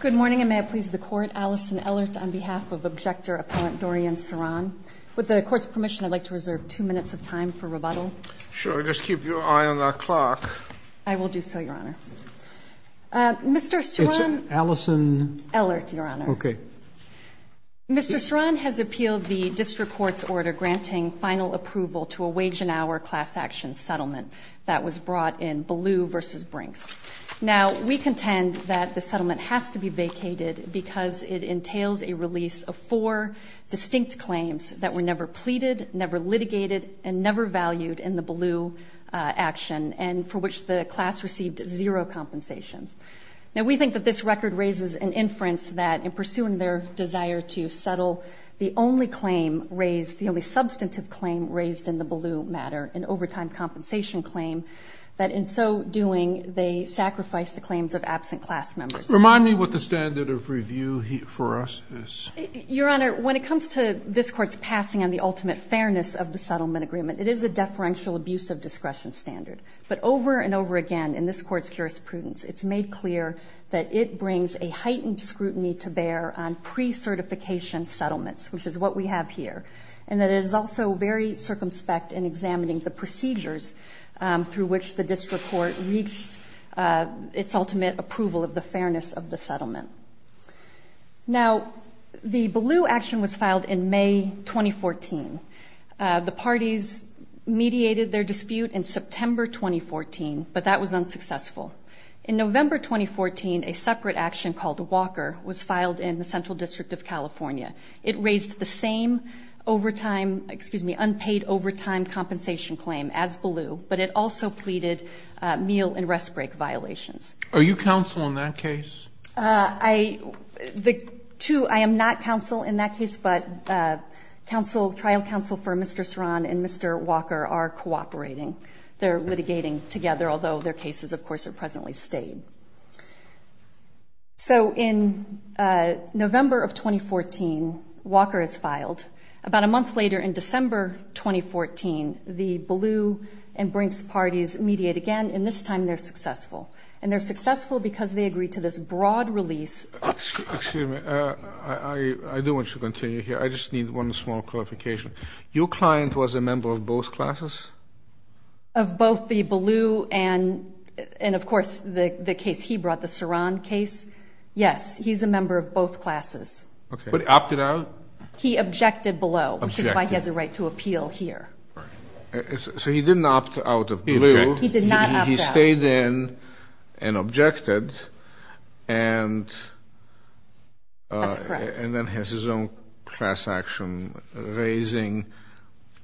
Good morning, and may I please the Court, Alison Ellert, on behalf of Objector Appellant Dorian Ceron. With the Court's permission, I'd like to reserve two minutes of time for rebuttal. Sure, just keep your eye on the clock. I will do so, Your Honor. Mr. Ceron... It's Alison... Ellert, Your Honor. Okay. Mr. Ceron has appealed the District Court's order granting final approval to a wage and hour class action settlement that was brought in Ballou v. Brinks. Now, we contend that the settlement has to be vacated because it entails a release of four distinct claims that were never pleaded, never litigated, and never valued in the Ballou action, and for which the class received zero compensation. Now, we think that this record raises an inference that in pursuing their desire to settle, the only claim raised, the only substantive claim raised in the Ballou matter, an overtime compensation claim, that in so doing they sacrificed the claims of absent class members. Remind me what the standard of review for us is. Your Honor, when it comes to this Court's passing on the ultimate fairness of the settlement agreement, it is a deferential abuse of discretion standard. But over and over again in this Court's jurisprudence, it's made clear that it brings a heightened scrutiny to bear on pre-certification settlements, which is what we have here, and that it is also very circumspect in examining the procedures through which the district court reached its ultimate approval of the fairness of the settlement. Now, the Ballou action was filed in May 2014. The parties mediated their dispute in September 2014, but that was unsuccessful. In November 2014, a separate action called Walker was filed in the Central District of California. It raised the same unpaid overtime compensation claim as Ballou, but it also pleaded meal and rest break violations. Are you counsel in that case? I am not counsel in that case, but trial counsel for Mr. Soran and Mr. Walker are cooperating. They're litigating together, although their cases, of course, are presently stayed. So in November of 2014, Walker is filed. About a month later in December 2014, the Ballou and Brinks parties mediate again, and this time they're successful, and they're successful because they agree to this broad release. Excuse me. I do want you to continue here. I just need one small clarification. Your client was a member of both classes? Of both the Ballou and, of course, the case he brought, the Soran case. Yes, he's a member of both classes. Okay. But opted out? He objected below. Objected. Which is why he has a right to appeal here. Right. So he didn't opt out of Ballou. He objected. He did not opt out. He stayed in and objected. That's correct. And then has his own class action, raising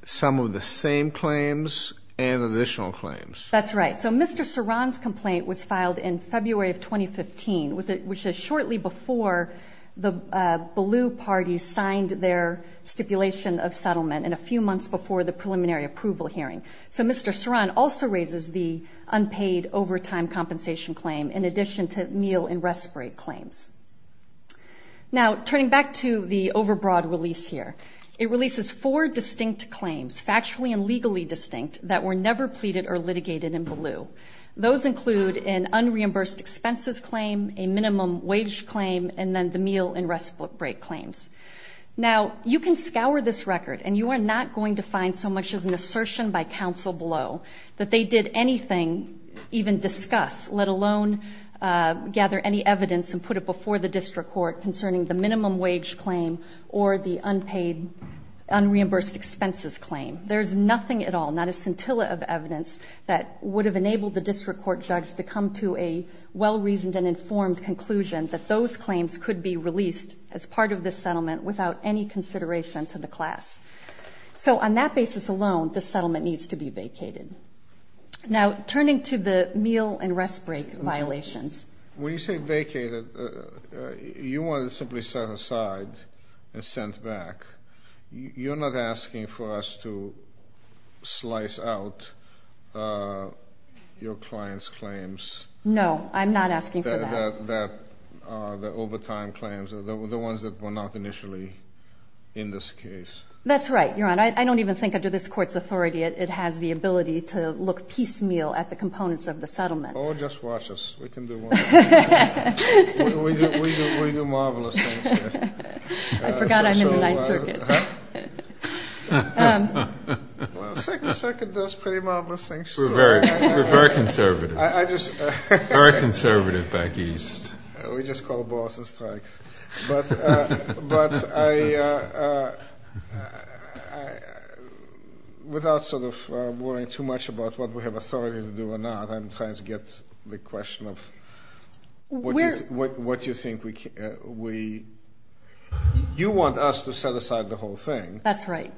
some of the same claims and additional claims. That's right. So Mr. Soran's complaint was filed in February of 2015, which is shortly before the Ballou party signed their stipulation of settlement and a few months before the preliminary approval hearing. So Mr. Soran also raises the unpaid overtime compensation claim, in addition to meal and respite claims. Now, turning back to the overbroad release here, it releases four distinct claims, factually and legally distinct, that were never pleaded or litigated in Ballou. Those include an unreimbursed expenses claim, a minimum wage claim, and then the meal and respite break claims. Now, you can scour this record and you are not going to find so much as an assertion by counsel below that they did anything, even discuss, let alone gather any evidence and put it before the district court concerning the minimum wage claim or the unpaid unreimbursed expenses claim. There is nothing at all, not a scintilla of evidence, that would have enabled the district court judge to come to a well-reasoned and informed conclusion that those claims could be released as part of this settlement without any consideration to the class. So on that basis alone, this settlement needs to be vacated. Now, turning to the meal and respite violations. When you say vacated, you want it simply set aside and sent back. You're not asking for us to slice out your client's claims. No, I'm not asking for that. The overtime claims, the ones that were not initially in this case. That's right, Your Honor. I don't even think under this court's authority it has the ability to look piecemeal at the components of the settlement. Oh, just watch us. We can do marvelous things here. I forgot I'm in the Ninth Circuit. The Second Circuit does pretty marvelous things. We're very conservative. Very conservative back east. We just call balls and strikes. But I, without sort of worrying too much about what we have authority to do or not, I'm trying to get the question of what you think we, you want us to set aside the whole thing. That's right.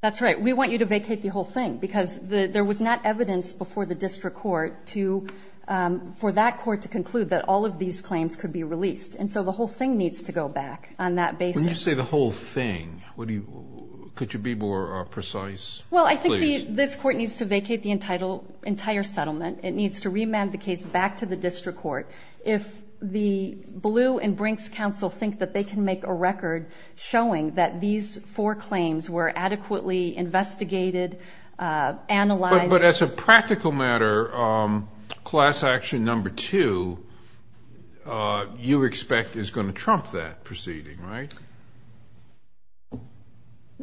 That's right. We want you to vacate the whole thing because there was not evidence before the district court for that court to conclude that all of these claims could be released. And so the whole thing needs to go back on that basis. When you say the whole thing, could you be more precise? Well, I think this court needs to vacate the entire settlement. It needs to remand the case back to the district court. If the Ballou and Brinks counsel think that they can make a record showing that these four claims were adequately investigated, analyzed. But as a practical matter, class action number two, you expect is going to trump that proceeding, right?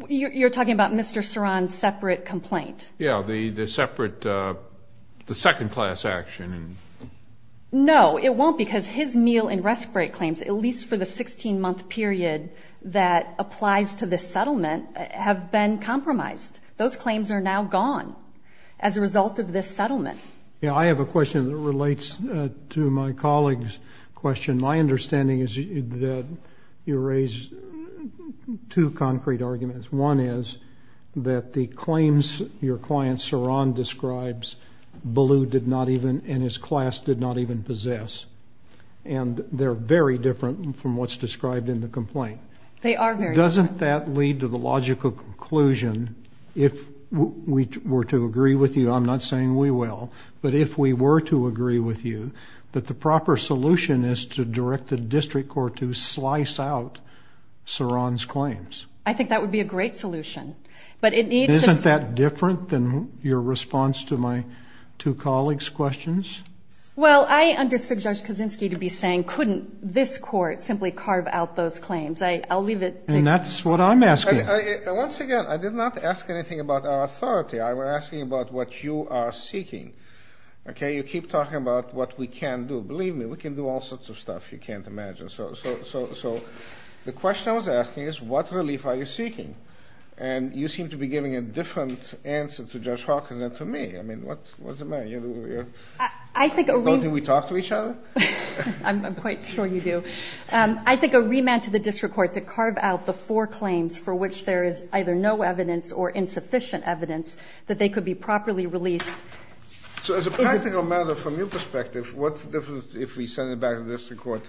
You're talking about Mr. Soran's separate complaint? Yeah, the separate, the second class action. No, it won't because his meal and rest break claims, at least for the 16-month period that applies to this settlement, have been compromised. Those claims are now gone as a result of this settlement. Yeah, I have a question that relates to my colleague's question. My understanding is that you raised two concrete arguments. One is that the claims your client, Soran, describes Ballou did not even and his class did not even possess, and they're very different from what's described in the complaint. They are very different. Doesn't that lead to the logical conclusion, if we were to agree with you, I'm not saying we will, but if we were to agree with you, that the proper solution is to direct the district court to slice out Soran's claims? I think that would be a great solution. Isn't that different than your response to my two colleagues' questions? Well, I understood Judge Kaczynski to be saying, couldn't this court simply carve out those claims? I'll leave it to you. And that's what I'm asking. Once again, I did not ask anything about our authority. I was asking about what you are seeking. Okay? You keep talking about what we can do. Believe me, we can do all sorts of stuff you can't imagine. So the question I was asking is, what relief are you seeking? And you seem to be giving a different answer to Judge Hawkins than to me. I mean, what's the matter? You don't think we talk to each other? I'm quite sure you do. I think a remand to the district court to carve out the four claims for which there is either no evidence or insufficient evidence that they could be properly released. So as a practical matter, from your perspective, what's the difference if we send it back to the district court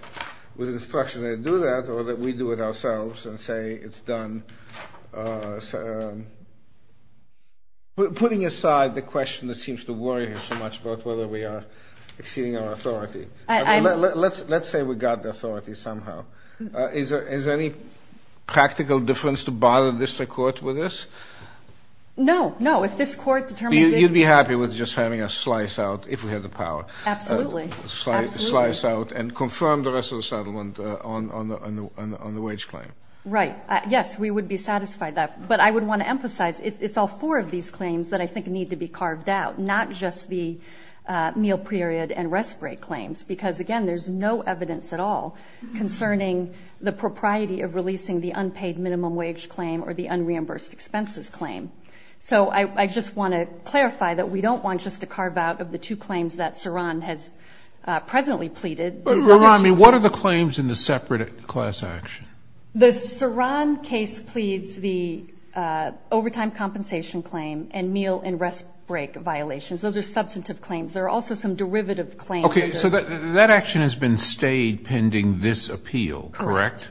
with an instruction to do that or that we do it ourselves and say it's done? Putting aside the question that seems to worry me so much about whether we are exceeding our authority, let's say we got the authority somehow. Is there any practical difference to bother the district court with this? No, no. If this court determines it. You'd be happy with just having us slice out, if we had the power. Absolutely. Absolutely. Slice out and confirm the rest of the settlement on the wage claim. Right. Yes, we would be satisfied with that. But I would want to emphasize it's all four of these claims that I think need to be carved out, not just the meal period and rest break claims because, again, there's no evidence at all concerning the propriety of releasing the unpaid minimum wage claim or the unreimbursed expenses claim. So I just want to clarify that we don't want just to carve out of the two claims that Saron has presently pleaded. But, Ron, what are the claims in the separate class action? The Saron case pleads the overtime compensation claim and meal and rest break violations. Those are substantive claims. There are also some derivative claims. Okay, so that action has been stayed pending this appeal, correct? Correct.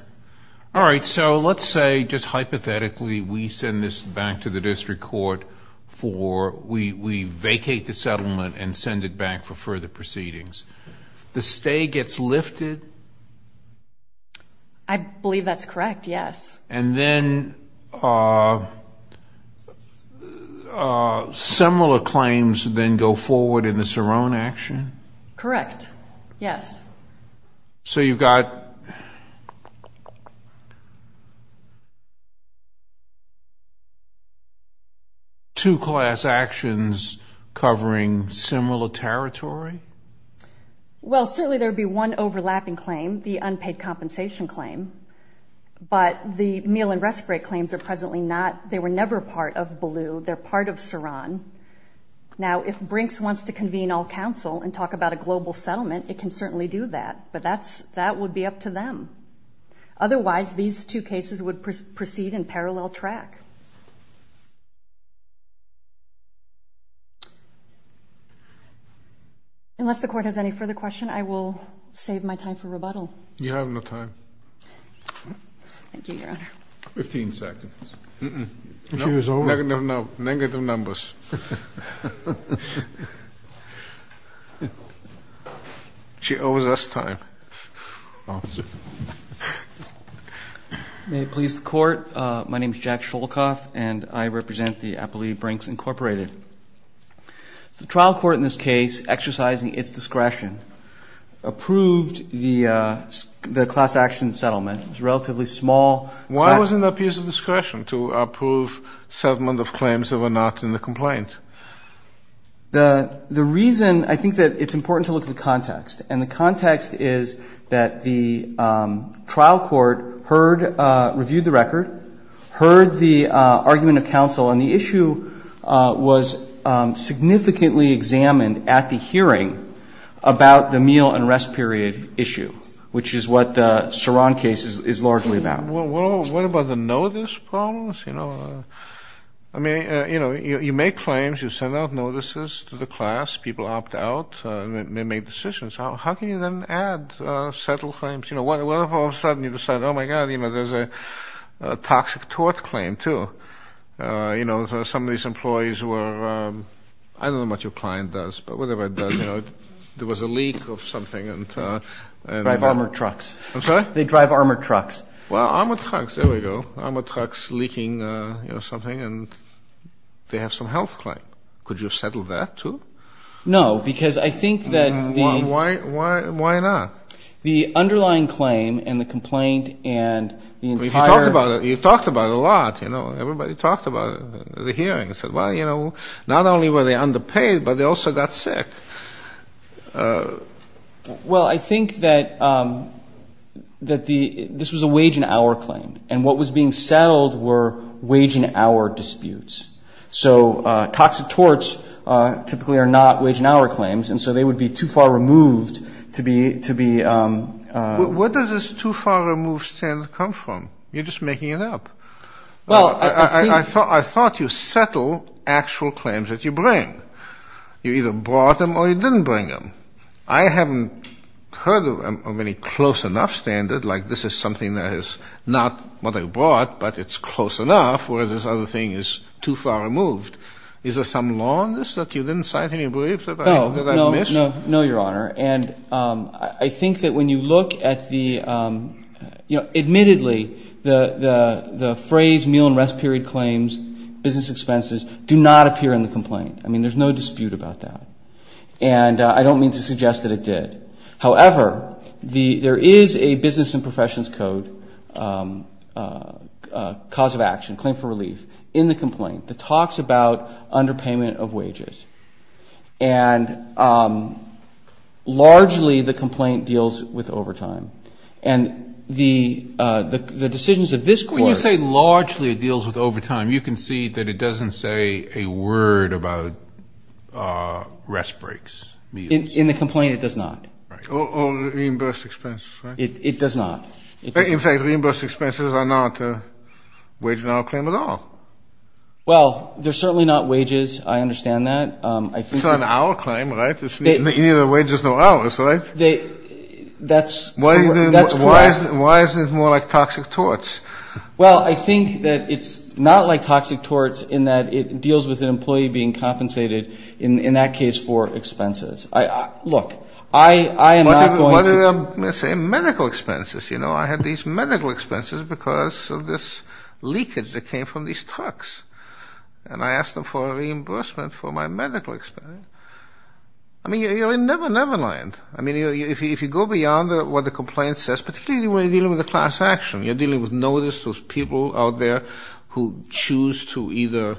All right, so let's say just hypothetically we send this back to the district court for we vacate the settlement and send it back for further proceedings. The stay gets lifted? I believe that's correct, yes. And then similar claims then go forward in the Saron action? Correct, yes. So you've got two class actions covering similar territory? Well, certainly there would be one overlapping claim, the unpaid compensation claim, but the meal and rest break claims are presently not. They were never part of Baloo. They're part of Saron. Now, if Brinks wants to convene all counsel and talk about a global settlement, it can certainly do that, but that would be up to them. Otherwise, these two cases would proceed in parallel track. Unless the Court has any further questions, I will save my time for rebuttal. You have no time. Thank you, Your Honor. Fifteen seconds. Negative numbers. She owes us time. May it please the Court, my name is Jack Sholkoff, and I represent the Appellee Brinks Incorporated. The trial court in this case, exercising its discretion, approved the class action settlement. It was a relatively small. Why wasn't there a piece of discretion to approve settlement of claims that were not in the complaint? The reason I think that it's important to look at the context, and the context is that the trial court heard, reviewed the record, heard the argument of counsel, and the issue was significantly examined at the hearing about the meal and rest period issue, which is what the Saron case is largely about. What about the notice problems? I mean, you make claims, you send out notices to the class, people opt out, and they make decisions. How can you then add settle claims? What if all of a sudden you decide, oh, my God, there's a toxic tort claim, too? Some of these employees were, I don't know what your client does, but whatever it does, there was a leak of something. They drive armored trucks. I'm sorry? They drive armored trucks. Well, armored trucks, there we go. Armored trucks leaking, you know, something, and they have some health claim. Could you have settled that, too? No, because I think that the... Why not? The underlying claim and the complaint and the entire... You talked about it. You talked about it a lot, you know. Everybody talked about it at the hearing and said, well, you know, not only were they underpaid, but they also got sick. Well, I think that this was a wage and hour claim, and what was being settled were wage and hour disputes. So toxic torts typically are not wage and hour claims, and so they would be too far removed to be... Where does this too far removed standard come from? You're just making it up. Well, I think... I thought you settle actual claims that you bring. You either brought them or you didn't bring them. I haven't heard of any close enough standard, like this is something that is not what I brought, but it's close enough, whereas this other thing is too far removed. Is there some law on this? Look, you didn't cite any briefs that I've missed? No, Your Honor, and I think that when you look at the... There's no dispute about that, and I don't mean to suggest that it did. However, there is a business and professions code cause of action, claim for relief, in the complaint, that talks about underpayment of wages, and largely the complaint deals with overtime. And the decisions of this court... rest breaks. In the complaint, it does not. Or reimbursed expenses, right? It does not. In fact, reimbursed expenses are not a wage and hour claim at all. Well, they're certainly not wages. I understand that. It's not an hour claim, right? Any of the wages are hours, right? That's correct. Why is it more like toxic torts? Well, I think that it's not like toxic torts in that it deals with an employee being compensated, in that case, for expenses. Look, I am not going to... Let's say medical expenses. You know, I had these medical expenses because of this leakage that came from these trucks, and I asked them for a reimbursement for my medical expenses. I mean, you're in Never Never Land. I mean, if you go beyond what the complaint says, particularly when you're dealing with a class action, you're dealing with notice, those people out there who choose to either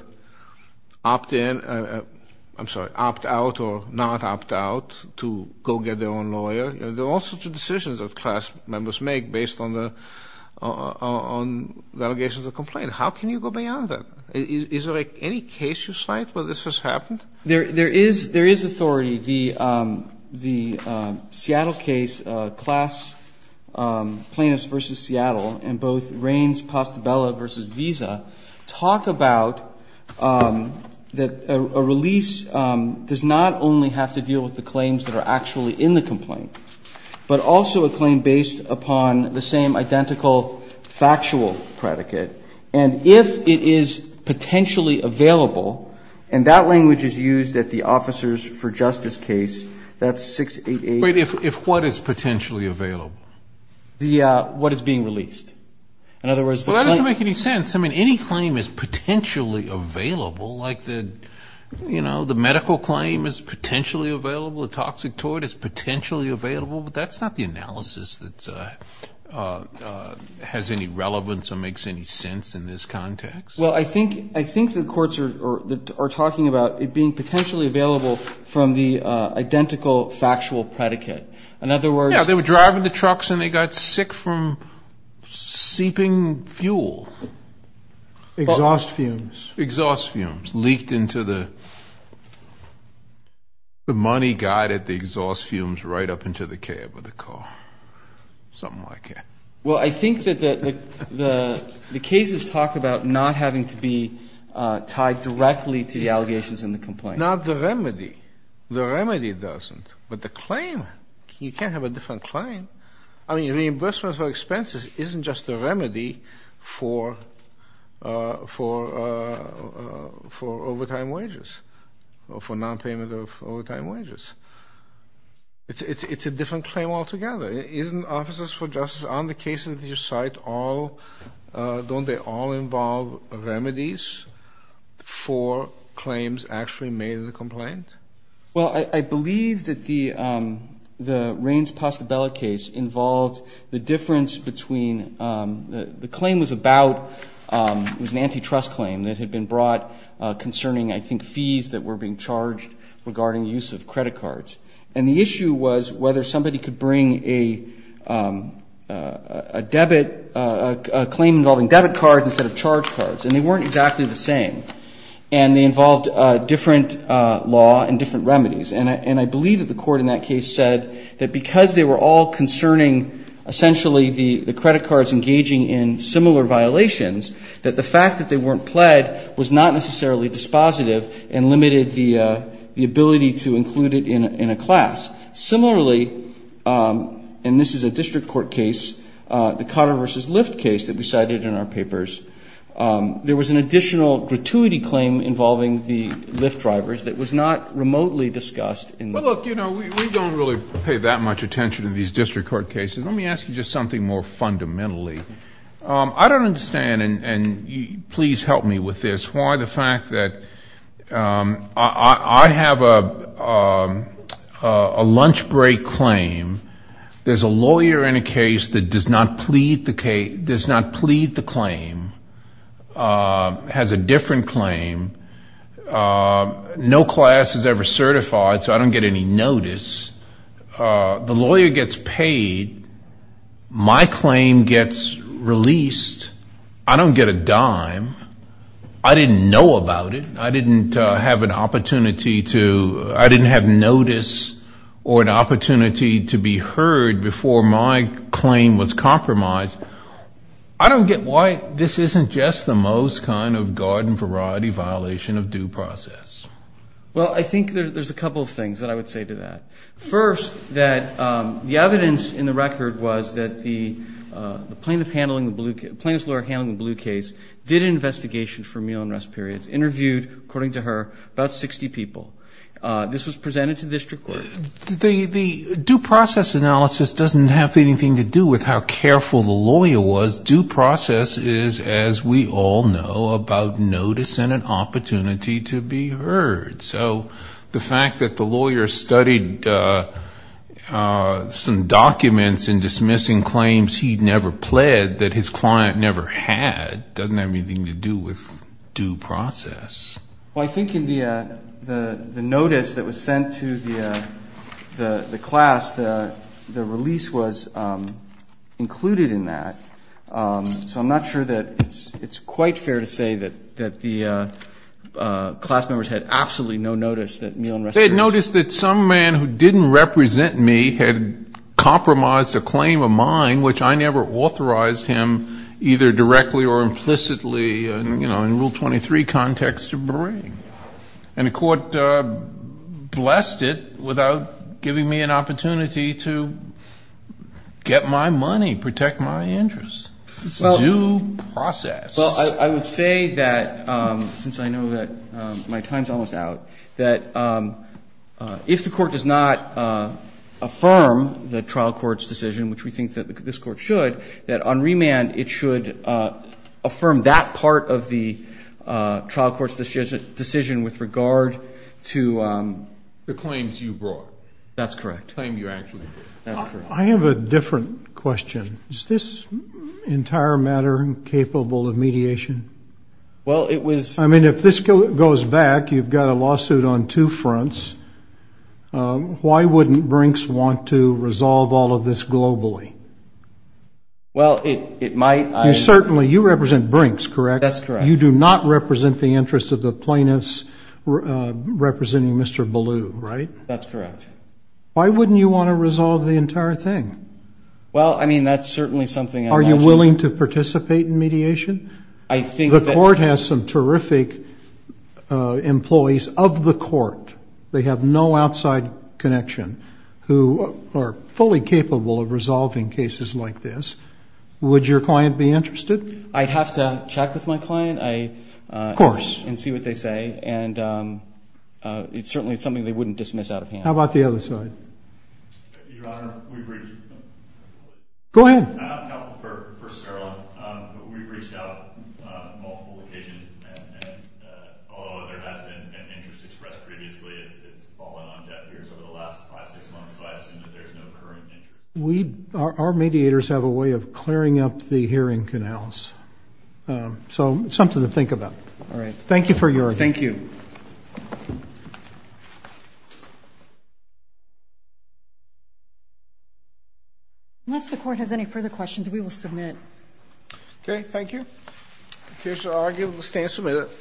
opt in or, I'm sorry, opt out or not opt out to go get their own lawyer. There are all sorts of decisions that class members make based on the allegations of complaint. How can you go beyond that? Is there any case you cite where this has happened? There is authority. The Seattle case, Class Plaintiffs v. Seattle, and both Raines-Pastabella v. Visa, talk about that a release does not only have to deal with the claims that are actually in the complaint, but also a claim based upon the same identical factual predicate. And if it is potentially available, and that language is used at the Officers for Justice case, that's 688. Wait. If what is potentially available? What is being released. In other words, the claim. Well, that doesn't make any sense. I mean, any claim is potentially available. Like, you know, the medical claim is potentially available. A toxic toy is potentially available. But that's not the analysis that has any relevance or makes any sense in this context. Well, I think the courts are talking about it being potentially available from the identical factual predicate. In other words. Yeah, they were driving the trucks and they got sick from seeping fuel. Exhaust fumes. Exhaust fumes leaked into the, the money got at the exhaust fumes right up into the cab of the car. Something like that. Well, I think that the cases talk about not having to be tied directly to the allegations in the complaint. Not the remedy. The remedy doesn't. But the claim, you can't have a different claim. I mean, reimbursement for expenses isn't just a remedy for, for, for overtime wages or for nonpayment of overtime wages. It's a different claim altogether. Isn't Officers for Justice on the cases that you cite all, don't they all involve remedies for claims actually made in the complaint? Well, I, I believe that the, the Raines-Postabella case involved the difference between, the claim was about, it was an antitrust claim that had been brought concerning, I think, fees that were being charged regarding use of credit cards. And the issue was whether somebody could bring a, a debit, a claim involving debit cards instead of charge cards. And they weren't exactly the same. And they involved different law and different remedies. And I, and I believe that the court in that case said that because they were all concerning essentially the, the credit cards engaging in similar violations, that the fact that they weren't pled was not necessarily dispositive and limited the, the ability to include it in, in a class. Similarly, and this is a district court case, the Cotter v. Lyft case that we cited in our papers. There was an additional gratuity claim involving the Lyft drivers that was not remotely discussed in the. Well, look, you know, we, we don't really pay that much attention to these district court cases. Let me ask you just something more fundamentally. I don't understand, and, and please help me with this, why the fact that I, I, I have a, a lunch break claim. There's a lawyer in a case that does not plead the case, does not plead the claim. Has a different claim. No class is ever certified, so I don't get any notice. The lawyer gets paid. My claim gets released. I don't get a dime. I didn't know about it. I didn't have an opportunity to, I didn't have notice or an opportunity to be heard before my claim was compromised. I don't get why this isn't just the most kind of garden variety violation of due process. Well, I think there's a couple of things that I would say to that. First, that the evidence in the record was that the plaintiff handling the blue, plaintiff's lawyer handling the blue case did an investigation for meal and rest periods, interviewed, according to her, about 60 people. This was presented to district court. The, the due process analysis doesn't have anything to do with how careful the lawyer was. Due process is, as we all know, about notice and an opportunity to be heard. So the fact that the lawyer studied some documents in dismissing claims he'd never pled that his client never had doesn't have anything to do with due process. Well, I think in the notice that was sent to the class, the release was included in that. So I'm not sure that it's, it's quite fair to say that, that the class members had absolutely no notice that meal and rest periods. They had noticed that some man who didn't represent me had compromised a claim of mine, which I never authorized him either directly or implicitly, you know, in Rule 23 context to bring. And the court blessed it without giving me an opportunity to get my money, protect my interest. Due process. Well, I would say that, since I know that my time's almost out, that if the court does not affirm the trial court's decision, which we think that this court should, that on remand it should affirm that part of the trial court's decision with regard to the claims you brought. That's correct. I have a different question. Is this entire matter capable of mediation? Well, it was. I mean, if this goes back, you've got a lawsuit on two fronts. Why wouldn't Brinks want to resolve all of this globally? Well, it might. You certainly, you represent Brinks, correct? That's correct. You do not represent the interests of the plaintiffs representing Mr. Ballew, right? That's correct. Why wouldn't you want to resolve the entire thing? Well, I mean, that's certainly something. Are you willing to participate in mediation? I think that. The court has some terrific employees of the court. They have no outside connection who are fully capable of resolving cases like this. Would your client be interested? I'd have to check with my client. Of course. And see what they say. And it's certainly something they wouldn't dismiss out of hand. How about the other side? Your Honor, we've reached. Go ahead. Counsel, first of all, we've reached out on multiple occasions. And although there has been an interest expressed previously, it's fallen on deaf ears over the last five, six months. So I assume that there's no current interest. Our mediators have a way of clearing up the hearing canals. So it's something to think about. All right. Thank you for your. Thank you. Unless the court has any further questions, we will submit. Okay. Thank you. The case is argued. We'll stand and submit it.